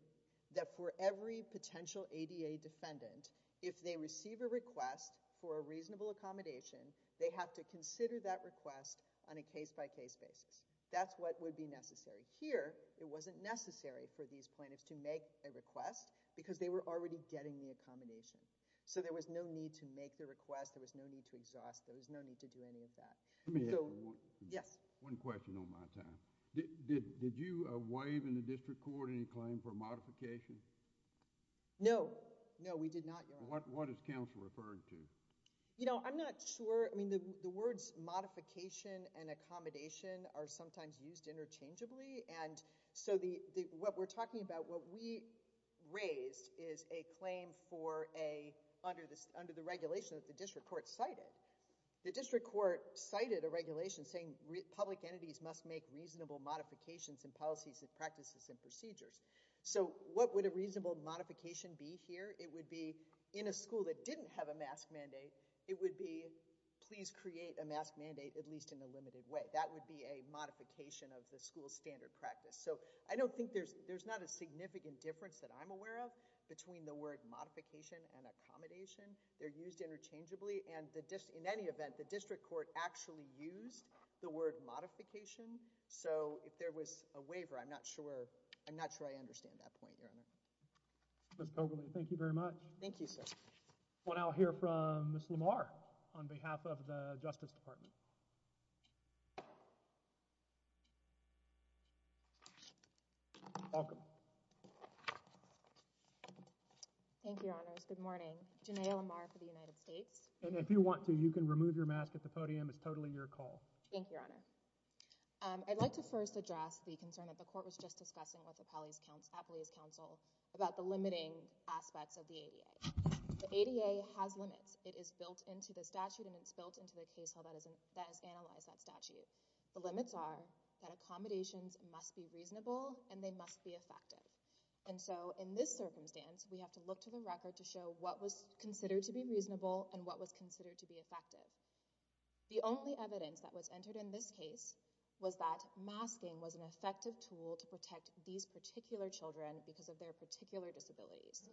that for every potential ADA defendant, if they receive a request for a reasonable accommodation, they have to consider that request on a case-by-case basis. That's what would be necessary. Here, it wasn't necessary for these plaintiffs to make a request because they were already getting the accommodation. So there was no need to make the request. There was no need to exhaust. There was no need to do any of that. Let me ask you one question on my time. Did you waive in the What is counsel referring to? You know, I'm not sure. I mean, the words modification and accommodation are sometimes used interchangeably. And so the, what we're talking about, what we raised is a claim for a, under the regulation that the district court cited. The district court cited a regulation saying public entities must make reasonable modifications and policies and practices and procedures. So what would a reasonable modification be here? It would be in a school that didn't have a mask mandate. It would be, please create a mask mandate, at least in a limited way. That would be a modification of the school standard practice. So I don't think there's, there's not a significant difference that I'm aware of between the word modification and accommodation. They're used interchangeably and the dis in any event, the district court actually used the word modification. So if there was a waiver, I'm not I'm not sure I understand that point. You're in it. Thank you very much. Thank you, sir. What I'll hear from Miss Lamar on behalf of the Justice Department. Welcome. Thank you, Your Honors. Good morning. Janay Lamar for the United States. And if you want to, you can remove your mask at the podium. It's totally your call. Thank you, Your Honor. I'd like to first address the concern that the court was just discussing with the Appellee's Council about the limiting aspects of the ADA. The ADA has limits. It is built into the statute and it's built into the case that has analyzed that statute. The limits are that accommodations must be reasonable and they must be effective. And so in this circumstance, we have to look to the record to show what was considered to be reasonable and what was considered to be effective. The only evidence that was entered in this case was that masking was an effective tool to protect these particular children because of their particular disabilities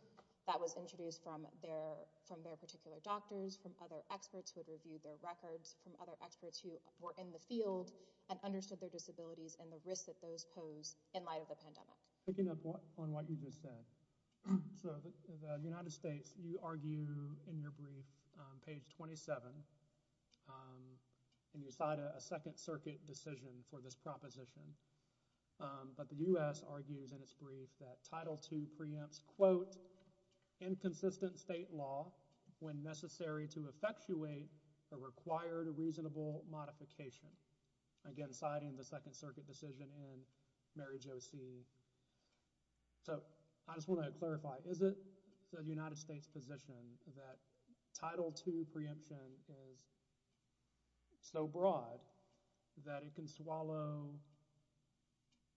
that was introduced from their from their particular doctors, from other experts who had reviewed their records, from other experts who were in the field and understood their disabilities and the risks that those pose in light of the pandemic. Picking up on what you just said. So the United States, you argue in your brief, page 27, and you cite a Second Circuit decision for this proposition. But the U.S. argues in its brief that Title II preempts, quote, inconsistent state law when necessary to effectuate a required reasonable modification. Again, citing the Second Circuit decision in Mary Jo See. So I just want to clarify, is it the United States position that Title II preemption is so broad that it can swallow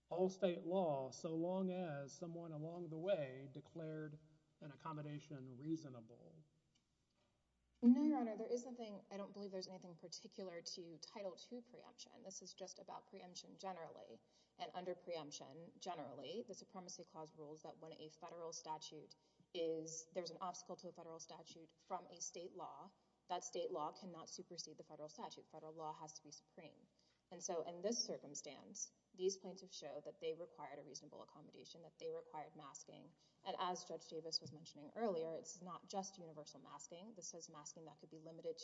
all state law so long as someone along the way declared an accommodation reasonable? No, Your Honor. There is nothing, I don't believe there's anything particular to Title II preemption. This is just about preemption generally. And under preemption, generally, the Supremacy Clause rules that when a federal statute is, there's an obstacle to a federal statute from a state law, that state law cannot supersede the federal statute. Federal law has to be supreme. And so in this circumstance, these points have showed that they required a reasonable accommodation, that they required masking. And as Judge Davis was mentioning earlier, it's not just universal masking. This is masking that to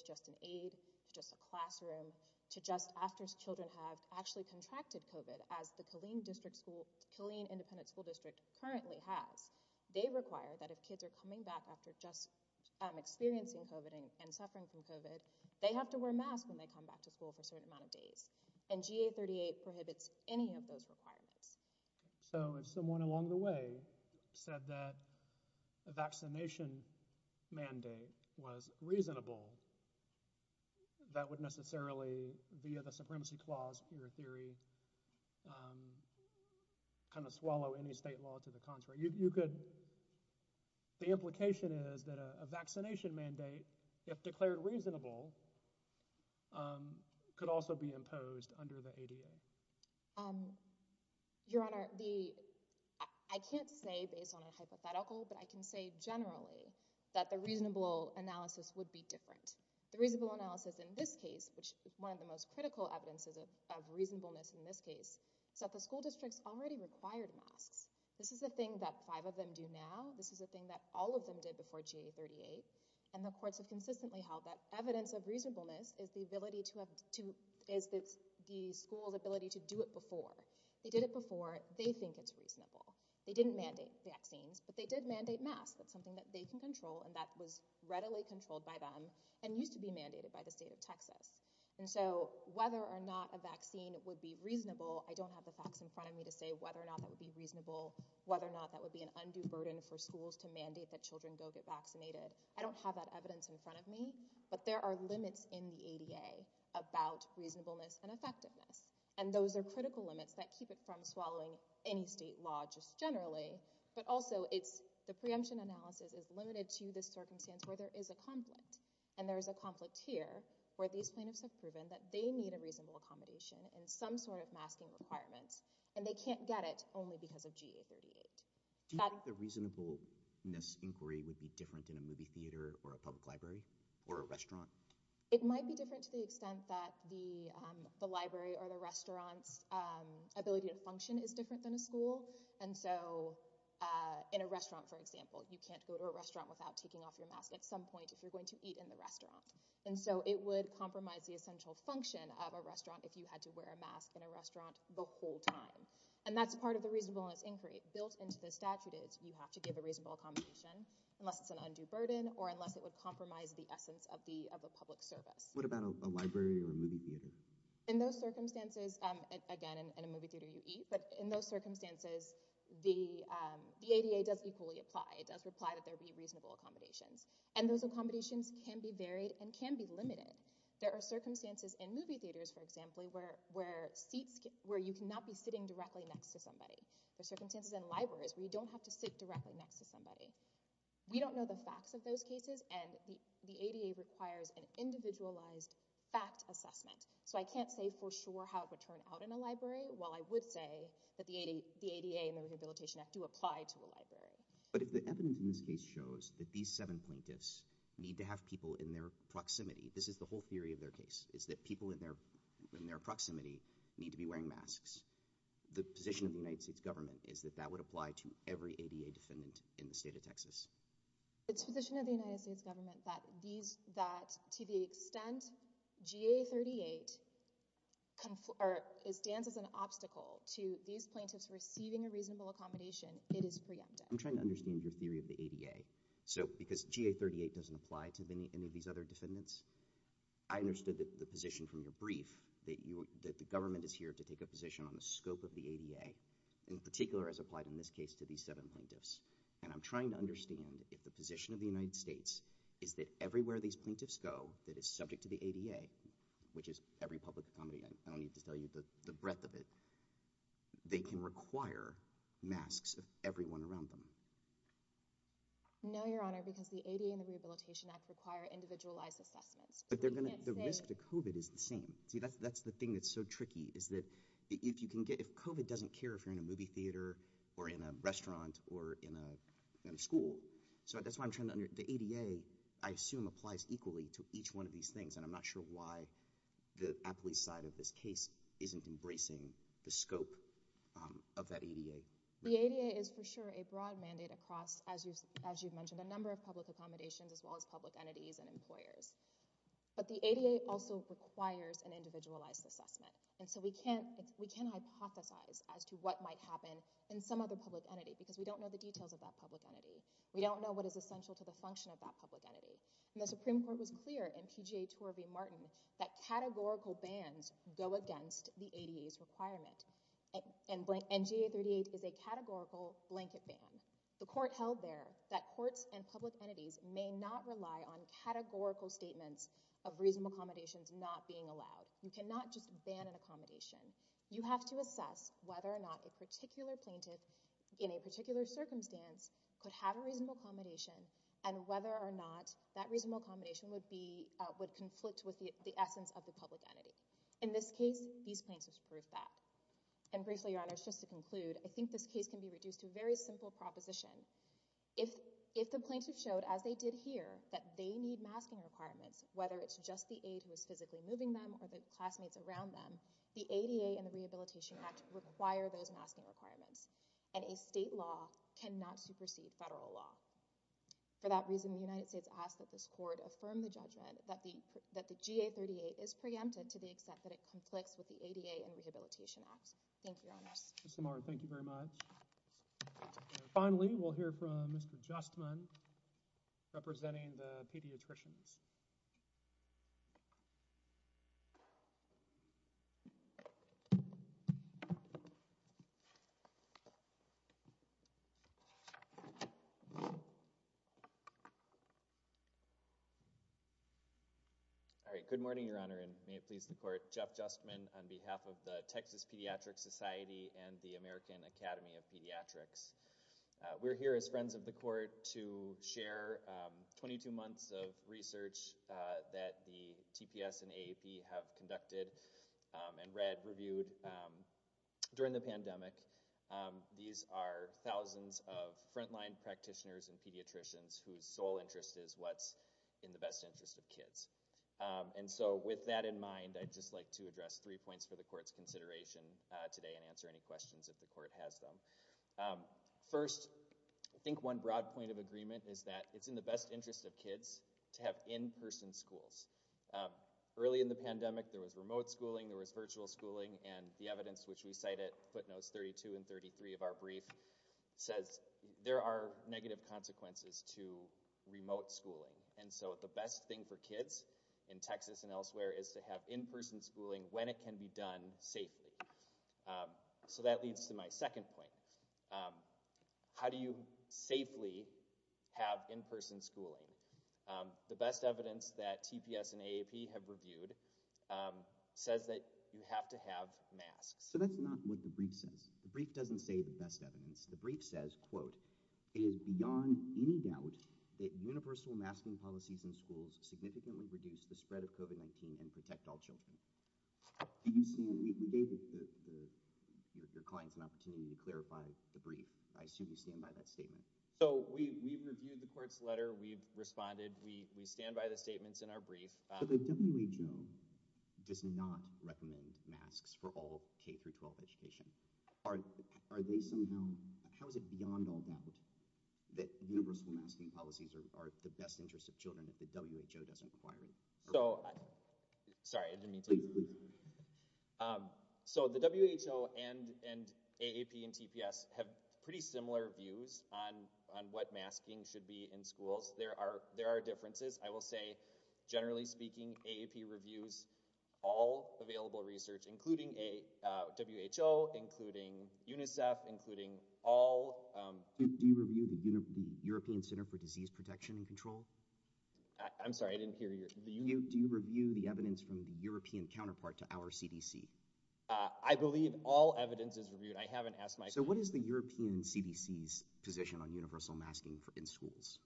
just an aid, to just a classroom, to just after children have actually contracted COVID, as the Killeen Independent School District currently has. They require that if kids are coming back after just experiencing COVID and suffering from COVID, they have to wear a mask when they come back to school for a certain amount of days. And GA38 prohibits any of those requirements. So if someone along the way said that a vaccination mandate was reasonable, that would necessarily, via the Supremacy Clause, in your theory, kind of swallow any state law to the contrary. You could, the implication is that a vaccination mandate, if declared reasonable, could also be imposed under the ADA. Your Honor, I can't say based on a hypothetical, but I can say generally that the reasonable analysis would be different. The reasonable analysis in this case, which is one of the most critical evidences of reasonableness in this case, is that the school districts already required masks. This is a thing that five of them do now. This is a thing that all of them did before GA38. And the courts have consistently held that evidence of reasonableness is the ability to, is the school's ability to do it before. They did it before. They think it's reasonable. They didn't mandate vaccines, but they did mandate masks. That's something that they can control and that was readily controlled by them and used to be mandated by the state of Texas. And so whether or not a vaccine would be reasonable, I don't have the facts in front of me to say whether or not that would be reasonable, whether or not that would be an undue burden for schools to mandate that children go get vaccinated. I don't have evidence in front of me, but there are limits in the ADA about reasonableness and effectiveness. And those are critical limits that keep it from swallowing any state law just generally, but also it's the preemption analysis is limited to this circumstance where there is a conflict. And there is a conflict here where these plaintiffs have proven that they need a reasonable accommodation and some sort of masking requirements and they can't get it only because of GA38. Do you think the reasonableness inquiry would be different in a movie theater or a public library or a restaurant? It might be different to the extent that the library or the restaurant's ability to function is different than a school. And so in a restaurant, for example, you can't go to a restaurant without taking off your mask at some point if you're going to eat in the restaurant. And so it would compromise the essential function of a restaurant if you had to wear a mask in a restaurant the whole time. And that's part of the reasonableness inquiry built into the statute is you have to give a reasonable accommodation unless it's an undue burden or unless it would compromise the essence of a public service. What about a library or a movie theater? In those circumstances, again, in a movie theater you eat, but in those circumstances, the ADA does equally apply. It does apply that there be reasonable accommodations. And those accommodations can be varied and can be limited. There are circumstances in movie theaters, for example, where you cannot be sitting directly next to somebody. There are circumstances in libraries where you don't have to sit directly next to somebody. We don't know the facts of those cases, and the ADA requires an individualized fact assessment. So I can't say for sure how it would turn out in a library, while I would say that the ADA and the Rehabilitation Act do apply to a library. But if the evidence in this case shows that these seven plaintiffs need to have people in their proximity, this is the whole theory of their case, is that people in their proximity need to be wearing masks, the position of the United States government is that that would apply to every ADA defendant in the state of Texas. It's the position of the United States government that to the extent GA38 stands as an obstacle to these plaintiffs receiving a reasonable accommodation, it is preemptive. I'm trying to understand your theory of the ADA. So because GA38 doesn't apply to any of these other defendants, I understood the position from your brief, that the government is here to these seven plaintiffs, and I'm trying to understand if the position of the United States is that everywhere these plaintiffs go that is subject to the ADA, which is every public accommodation, I don't need to tell you the breadth of it, they can require masks of everyone around them. No, Your Honor, because the ADA and the Rehabilitation Act require individualized assessments. But the risk to COVID is the same. See, that's the thing that's so tricky, is that if you can get, if COVID doesn't care if you're in a movie theater, or in a restaurant, or in a school. So that's why I'm trying to, the ADA, I assume applies equally to each one of these things. And I'm not sure why the police side of this case isn't embracing the scope of that ADA. The ADA is for sure a broad mandate across, as you've mentioned, a number of public accommodations as well as public entities and employers. But the ADA also requires an individualized assessment. And so we can't, we can't hypothesize as to what might happen in some other public entity because we don't know the details of that public entity. We don't know what is essential to the function of that public entity. And the Supreme Court was clear in PGA Tour v. Martin that categorical bans go against the ADA's requirement. And NGA 38 is a categorical blanket ban. The court held there that courts and public entities may not rely on categorical statements of reasonable accommodations not being allowed. You cannot just ban an accommodation. You have to assess whether or not a particular plaintiff in a particular circumstance could have a reasonable accommodation and whether or not that reasonable accommodation would be, would conflict with the essence of the public entity. In this case, these plaintiffs proved that. And briefly, Your Honor, just to conclude, I think this case can be reduced to a very simple proposition. If the plaintiff showed, as they did here, that they need masking requirements, whether it's just the aide who is physically moving them or the classmates around them, the ADA and the Rehabilitation Act require those masking requirements. And a state law cannot supersede federal law. For that reason, the United States asks that this court affirm the judgment that the GA 38 is preempted to the extent that it conflicts with the ADA and Rehabilitation Act. Thank you, Your Honors. Ms. Lamar, thank you very much. And finally, we'll hear from Mr. Justman, representing the pediatricians. All right. Good morning, Your Honor, and may it please the court. Jeff Justman on behalf of the American Academy of Pediatrics. We're here as friends of the court to share 22 months of research that the TPS and AAP have conducted and read, reviewed during the pandemic. These are thousands of frontline practitioners and pediatricians whose sole interest is what's in the best interest of kids. And so with that in mind, I'd just like to address three points for the court's consideration today and answer any questions if the court has them. First, I think one broad point of agreement is that it's in the best interest of kids to have in-person schools. Early in the pandemic, there was remote schooling, there was virtual schooling, and the evidence which we cite at footnotes 32 and 33 of our brief says there are negative consequences to remote schooling. And so the best thing for kids in Texas and elsewhere is to have in-person schooling when it can be done safely. So that leads to my second point. How do you safely have in-person schooling? The best evidence that TPS and AAP have reviewed says that you have to have masks. So that's not what the brief says. The brief doesn't say the best evidence. The brief says, quote, it is beyond any doubt that universal masking policies in schools significantly reduce the the your client's an opportunity to clarify the brief. I assume you stand by that statement. So we've reviewed the court's letter. We've responded. We stand by the statements in our brief. So the WHO does not recommend masks for all K through 12 education. Are they somehow, how is it beyond all doubt that universal masking policies are the best interest of children if the So the WHO and and AAP and TPS have pretty similar views on on what masking should be in schools. There are there are differences. I will say, generally speaking, AAP reviews all available research, including a WHO, including UNICEF, including all. Do you review the European Center for Disease Protection and Control? I'm sorry, I didn't hear you. Do you review the I believe all evidence is reviewed. I haven't asked my so what is the European CDC's position on universal masking for in schools?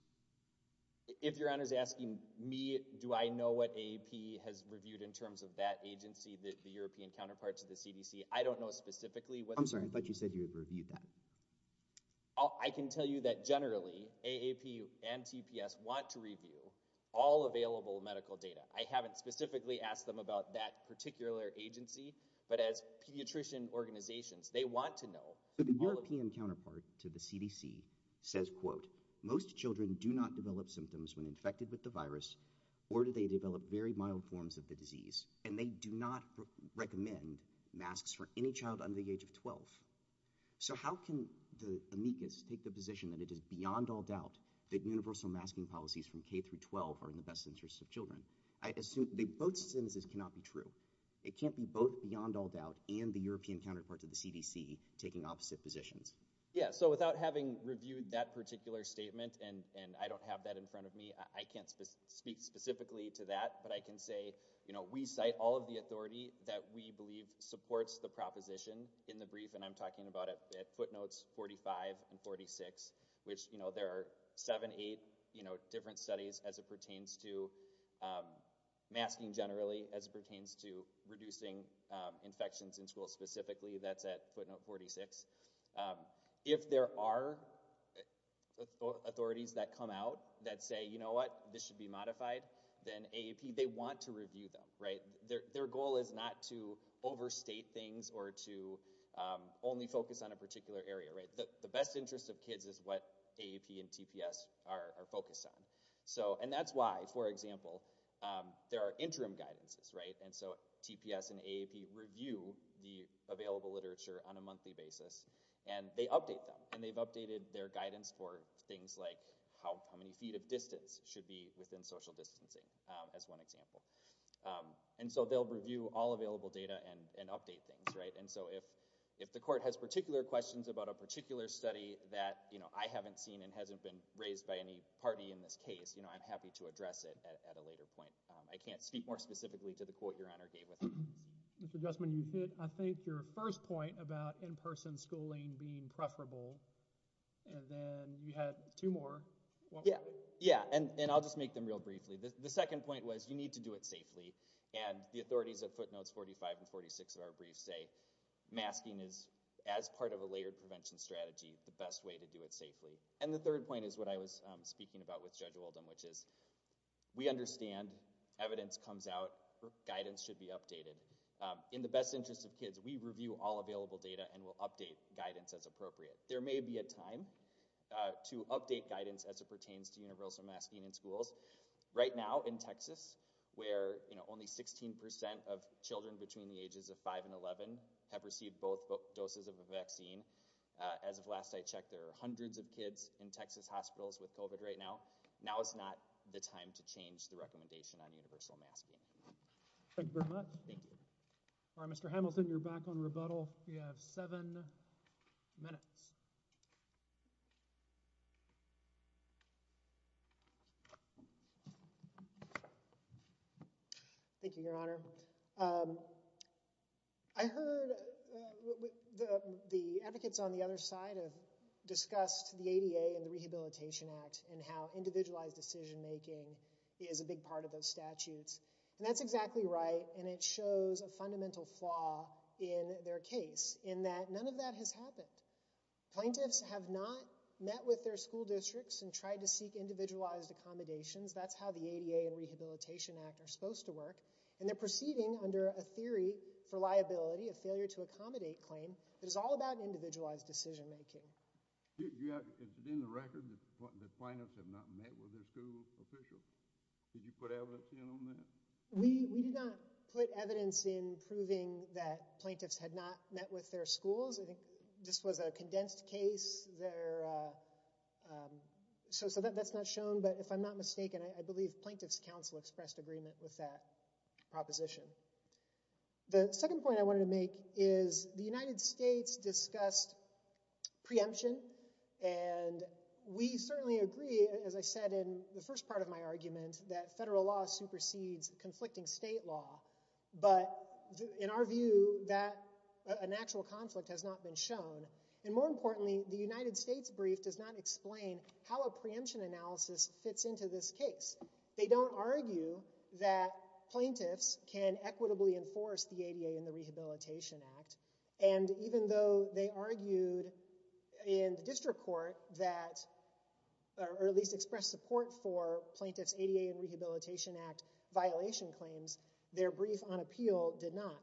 If your honor's asking me, do I know what AAP has reviewed in terms of that agency that the European counterparts of the CDC? I don't know specifically what I'm sorry, but you said you reviewed that. I can tell you that generally AAP and TPS want to review all available medical data. I haven't specifically asked them about that particular agency, but as pediatrician organizations, they want to know the European counterpart to the CDC says, quote, Most children do not develop symptoms when infected with the virus, or do they develop very mild forms of the disease? And they do not recommend masks for any child under the age of 12. So how can the amicus take the position that it is beyond all doubt that universal masking policies from K through 12 are in the best interest of children? I assume the both sentences cannot be true. It can't be both beyond all doubt and the European counterparts of the CDC taking opposite positions. Yeah. So without having reviewed that particular statement, and I don't have that in front of me, I can't speak specifically to that. But I can say, you know, we cite all of the authority that we believe supports the proposition in the brief. And I'm talking about it at footnotes 45 and 46, which, you know, there are seven, eight, different studies as it pertains to masking generally, as it pertains to reducing infections in schools specifically, that's at footnote 46. If there are authorities that come out that say, you know what, this should be modified, then AAP, they want to review them, right? Their goal is not to overstate things or to only focus on a particular area, right? The best interest of So, and that's why, for example, there are interim guidances, right? And so TPS and AAP review the available literature on a monthly basis and they update them and they've updated their guidance for things like how many feet of distance should be within social distancing as one example. And so they'll review all available data and, and update things, right? And so if, if the court has particular questions about a particular study that, you know, I haven't seen and hasn't been raised by any party in this case, you know, I'm happy to address it at, at a later point. I can't speak more specifically to the court your honor gave with. Mr. Guzman, you hit, I think your first point about in-person schooling being preferable and then you had two more. Yeah. Yeah. And, and I'll just make them real briefly. The second point was you need to do it safely. And the authorities at footnotes 45 and 46 of our briefs masking is as part of a layered prevention strategy, the best way to do it safely. And the third point is what I was speaking about with Judge Oldham, which is we understand evidence comes out, guidance should be updated in the best interest of kids. We review all available data and we'll update guidance as appropriate. There may be a time to update guidance as it pertains to universal masking in schools right now in Texas, where, you know, only 16% of children between the ages of five and 11 have received both doses of a vaccine. As of last I checked, there are hundreds of kids in Texas hospitals with COVID right now. Now is not the time to change the recommendation on universal masking. Thank you very much. Thank you. All right, Mr. Hamilton, you're back on rebuttal. You have seven minutes. Thank you, Your Honor. I heard the advocates on the other side have discussed the ADA and the Rehabilitation Act and how individualized decision making is a big part of those statutes. And that's exactly right. And it shows a fundamental flaw in their case in that none of that has happened. Plaintiffs have not met with their school districts and tried to seek individualized accommodations. That's how the ADA and Rehabilitation Act are supposed to work. And they're proceeding under a theory for liability, a failure to accommodate claim that is all about individualized decision making. Is it in the record that the plaintiffs have not met with their school officials? Did you put evidence in on that? We did not put evidence in proving that plaintiffs had not met with their schools. I think this was a condensed case. So that's not shown. But if I'm not mistaken, I believe Plaintiffs Council expressed agreement with that proposition. The second point I wanted to make is the United States discussed preemption. And we certainly agree, as I said, in the first part of my argument, that federal law supersedes conflicting state law. But in our view, that an actual conflict has not been shown. And more importantly, the United States brief does not explain how a preemption analysis fits into this case. They don't argue that plaintiffs can equitably enforce the ADA and the Rehabilitation Act. And even though they argued in the district court that or at least expressed support for plaintiffs ADA and Rehabilitation Act violation claims, their brief on appeal did not.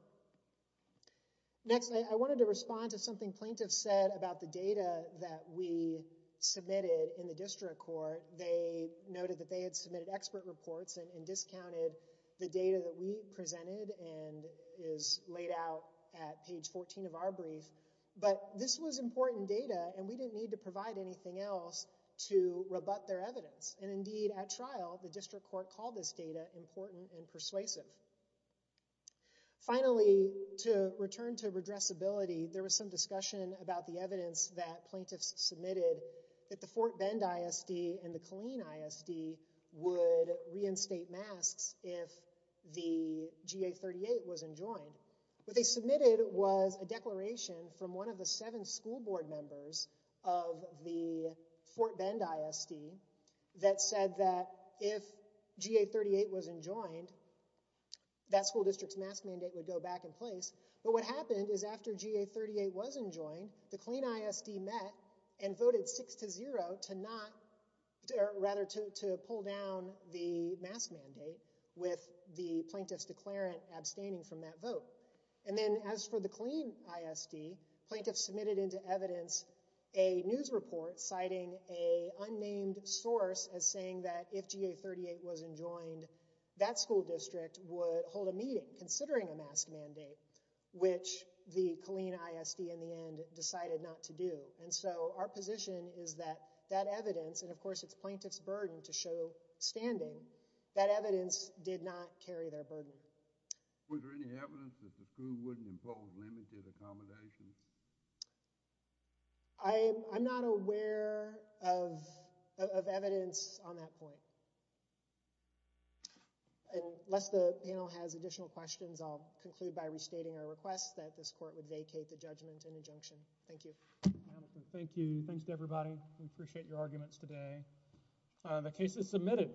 Next, I wanted to respond to something plaintiffs said about the data that we submitted in the district court. They noted that they had submitted expert reports and discounted the data that we presented and is laid out at page 14 of our brief. But this was important data and we didn't need to provide anything else to rebut their evidence. And indeed, at trial, the district court called this data important and persuasive. Finally, to return to redressability, there was some discussion about the evidence that plaintiffs submitted that the Fort Bend ISD and the Killeen ISD would reinstate masks if the GA-38 wasn't joined. What they submitted was a declaration from one of the seven school board members of the Fort Bend ISD that said that if GA-38 wasn't joined, that school district's mask mandate would go back in place. But what happened is after GA-38 wasn't joined, the Killeen ISD met and voted six to zero to not, rather to pull down the mask mandate with the plaintiff's declarant abstaining from that vote. And then as for the Killeen ISD, plaintiffs submitted into evidence a news report citing a unnamed source as saying that if GA-38 wasn't joined, that school district would hold a meeting considering a mask mandate, which the Killeen ISD in the end decided not to do. And so our position is that that evidence, and of course it's plaintiff's burden to show standing, that evidence did not carry their burden. Was there any evidence that the school wouldn't impose limited accommodations? I'm not aware of evidence on that point. And unless the panel has additional questions, I'll conclude by restating our request that this court would vacate the judgment and injunction. Thank you. Thank you. Thanks to everybody. We appreciate your arguments today. The case is submitted.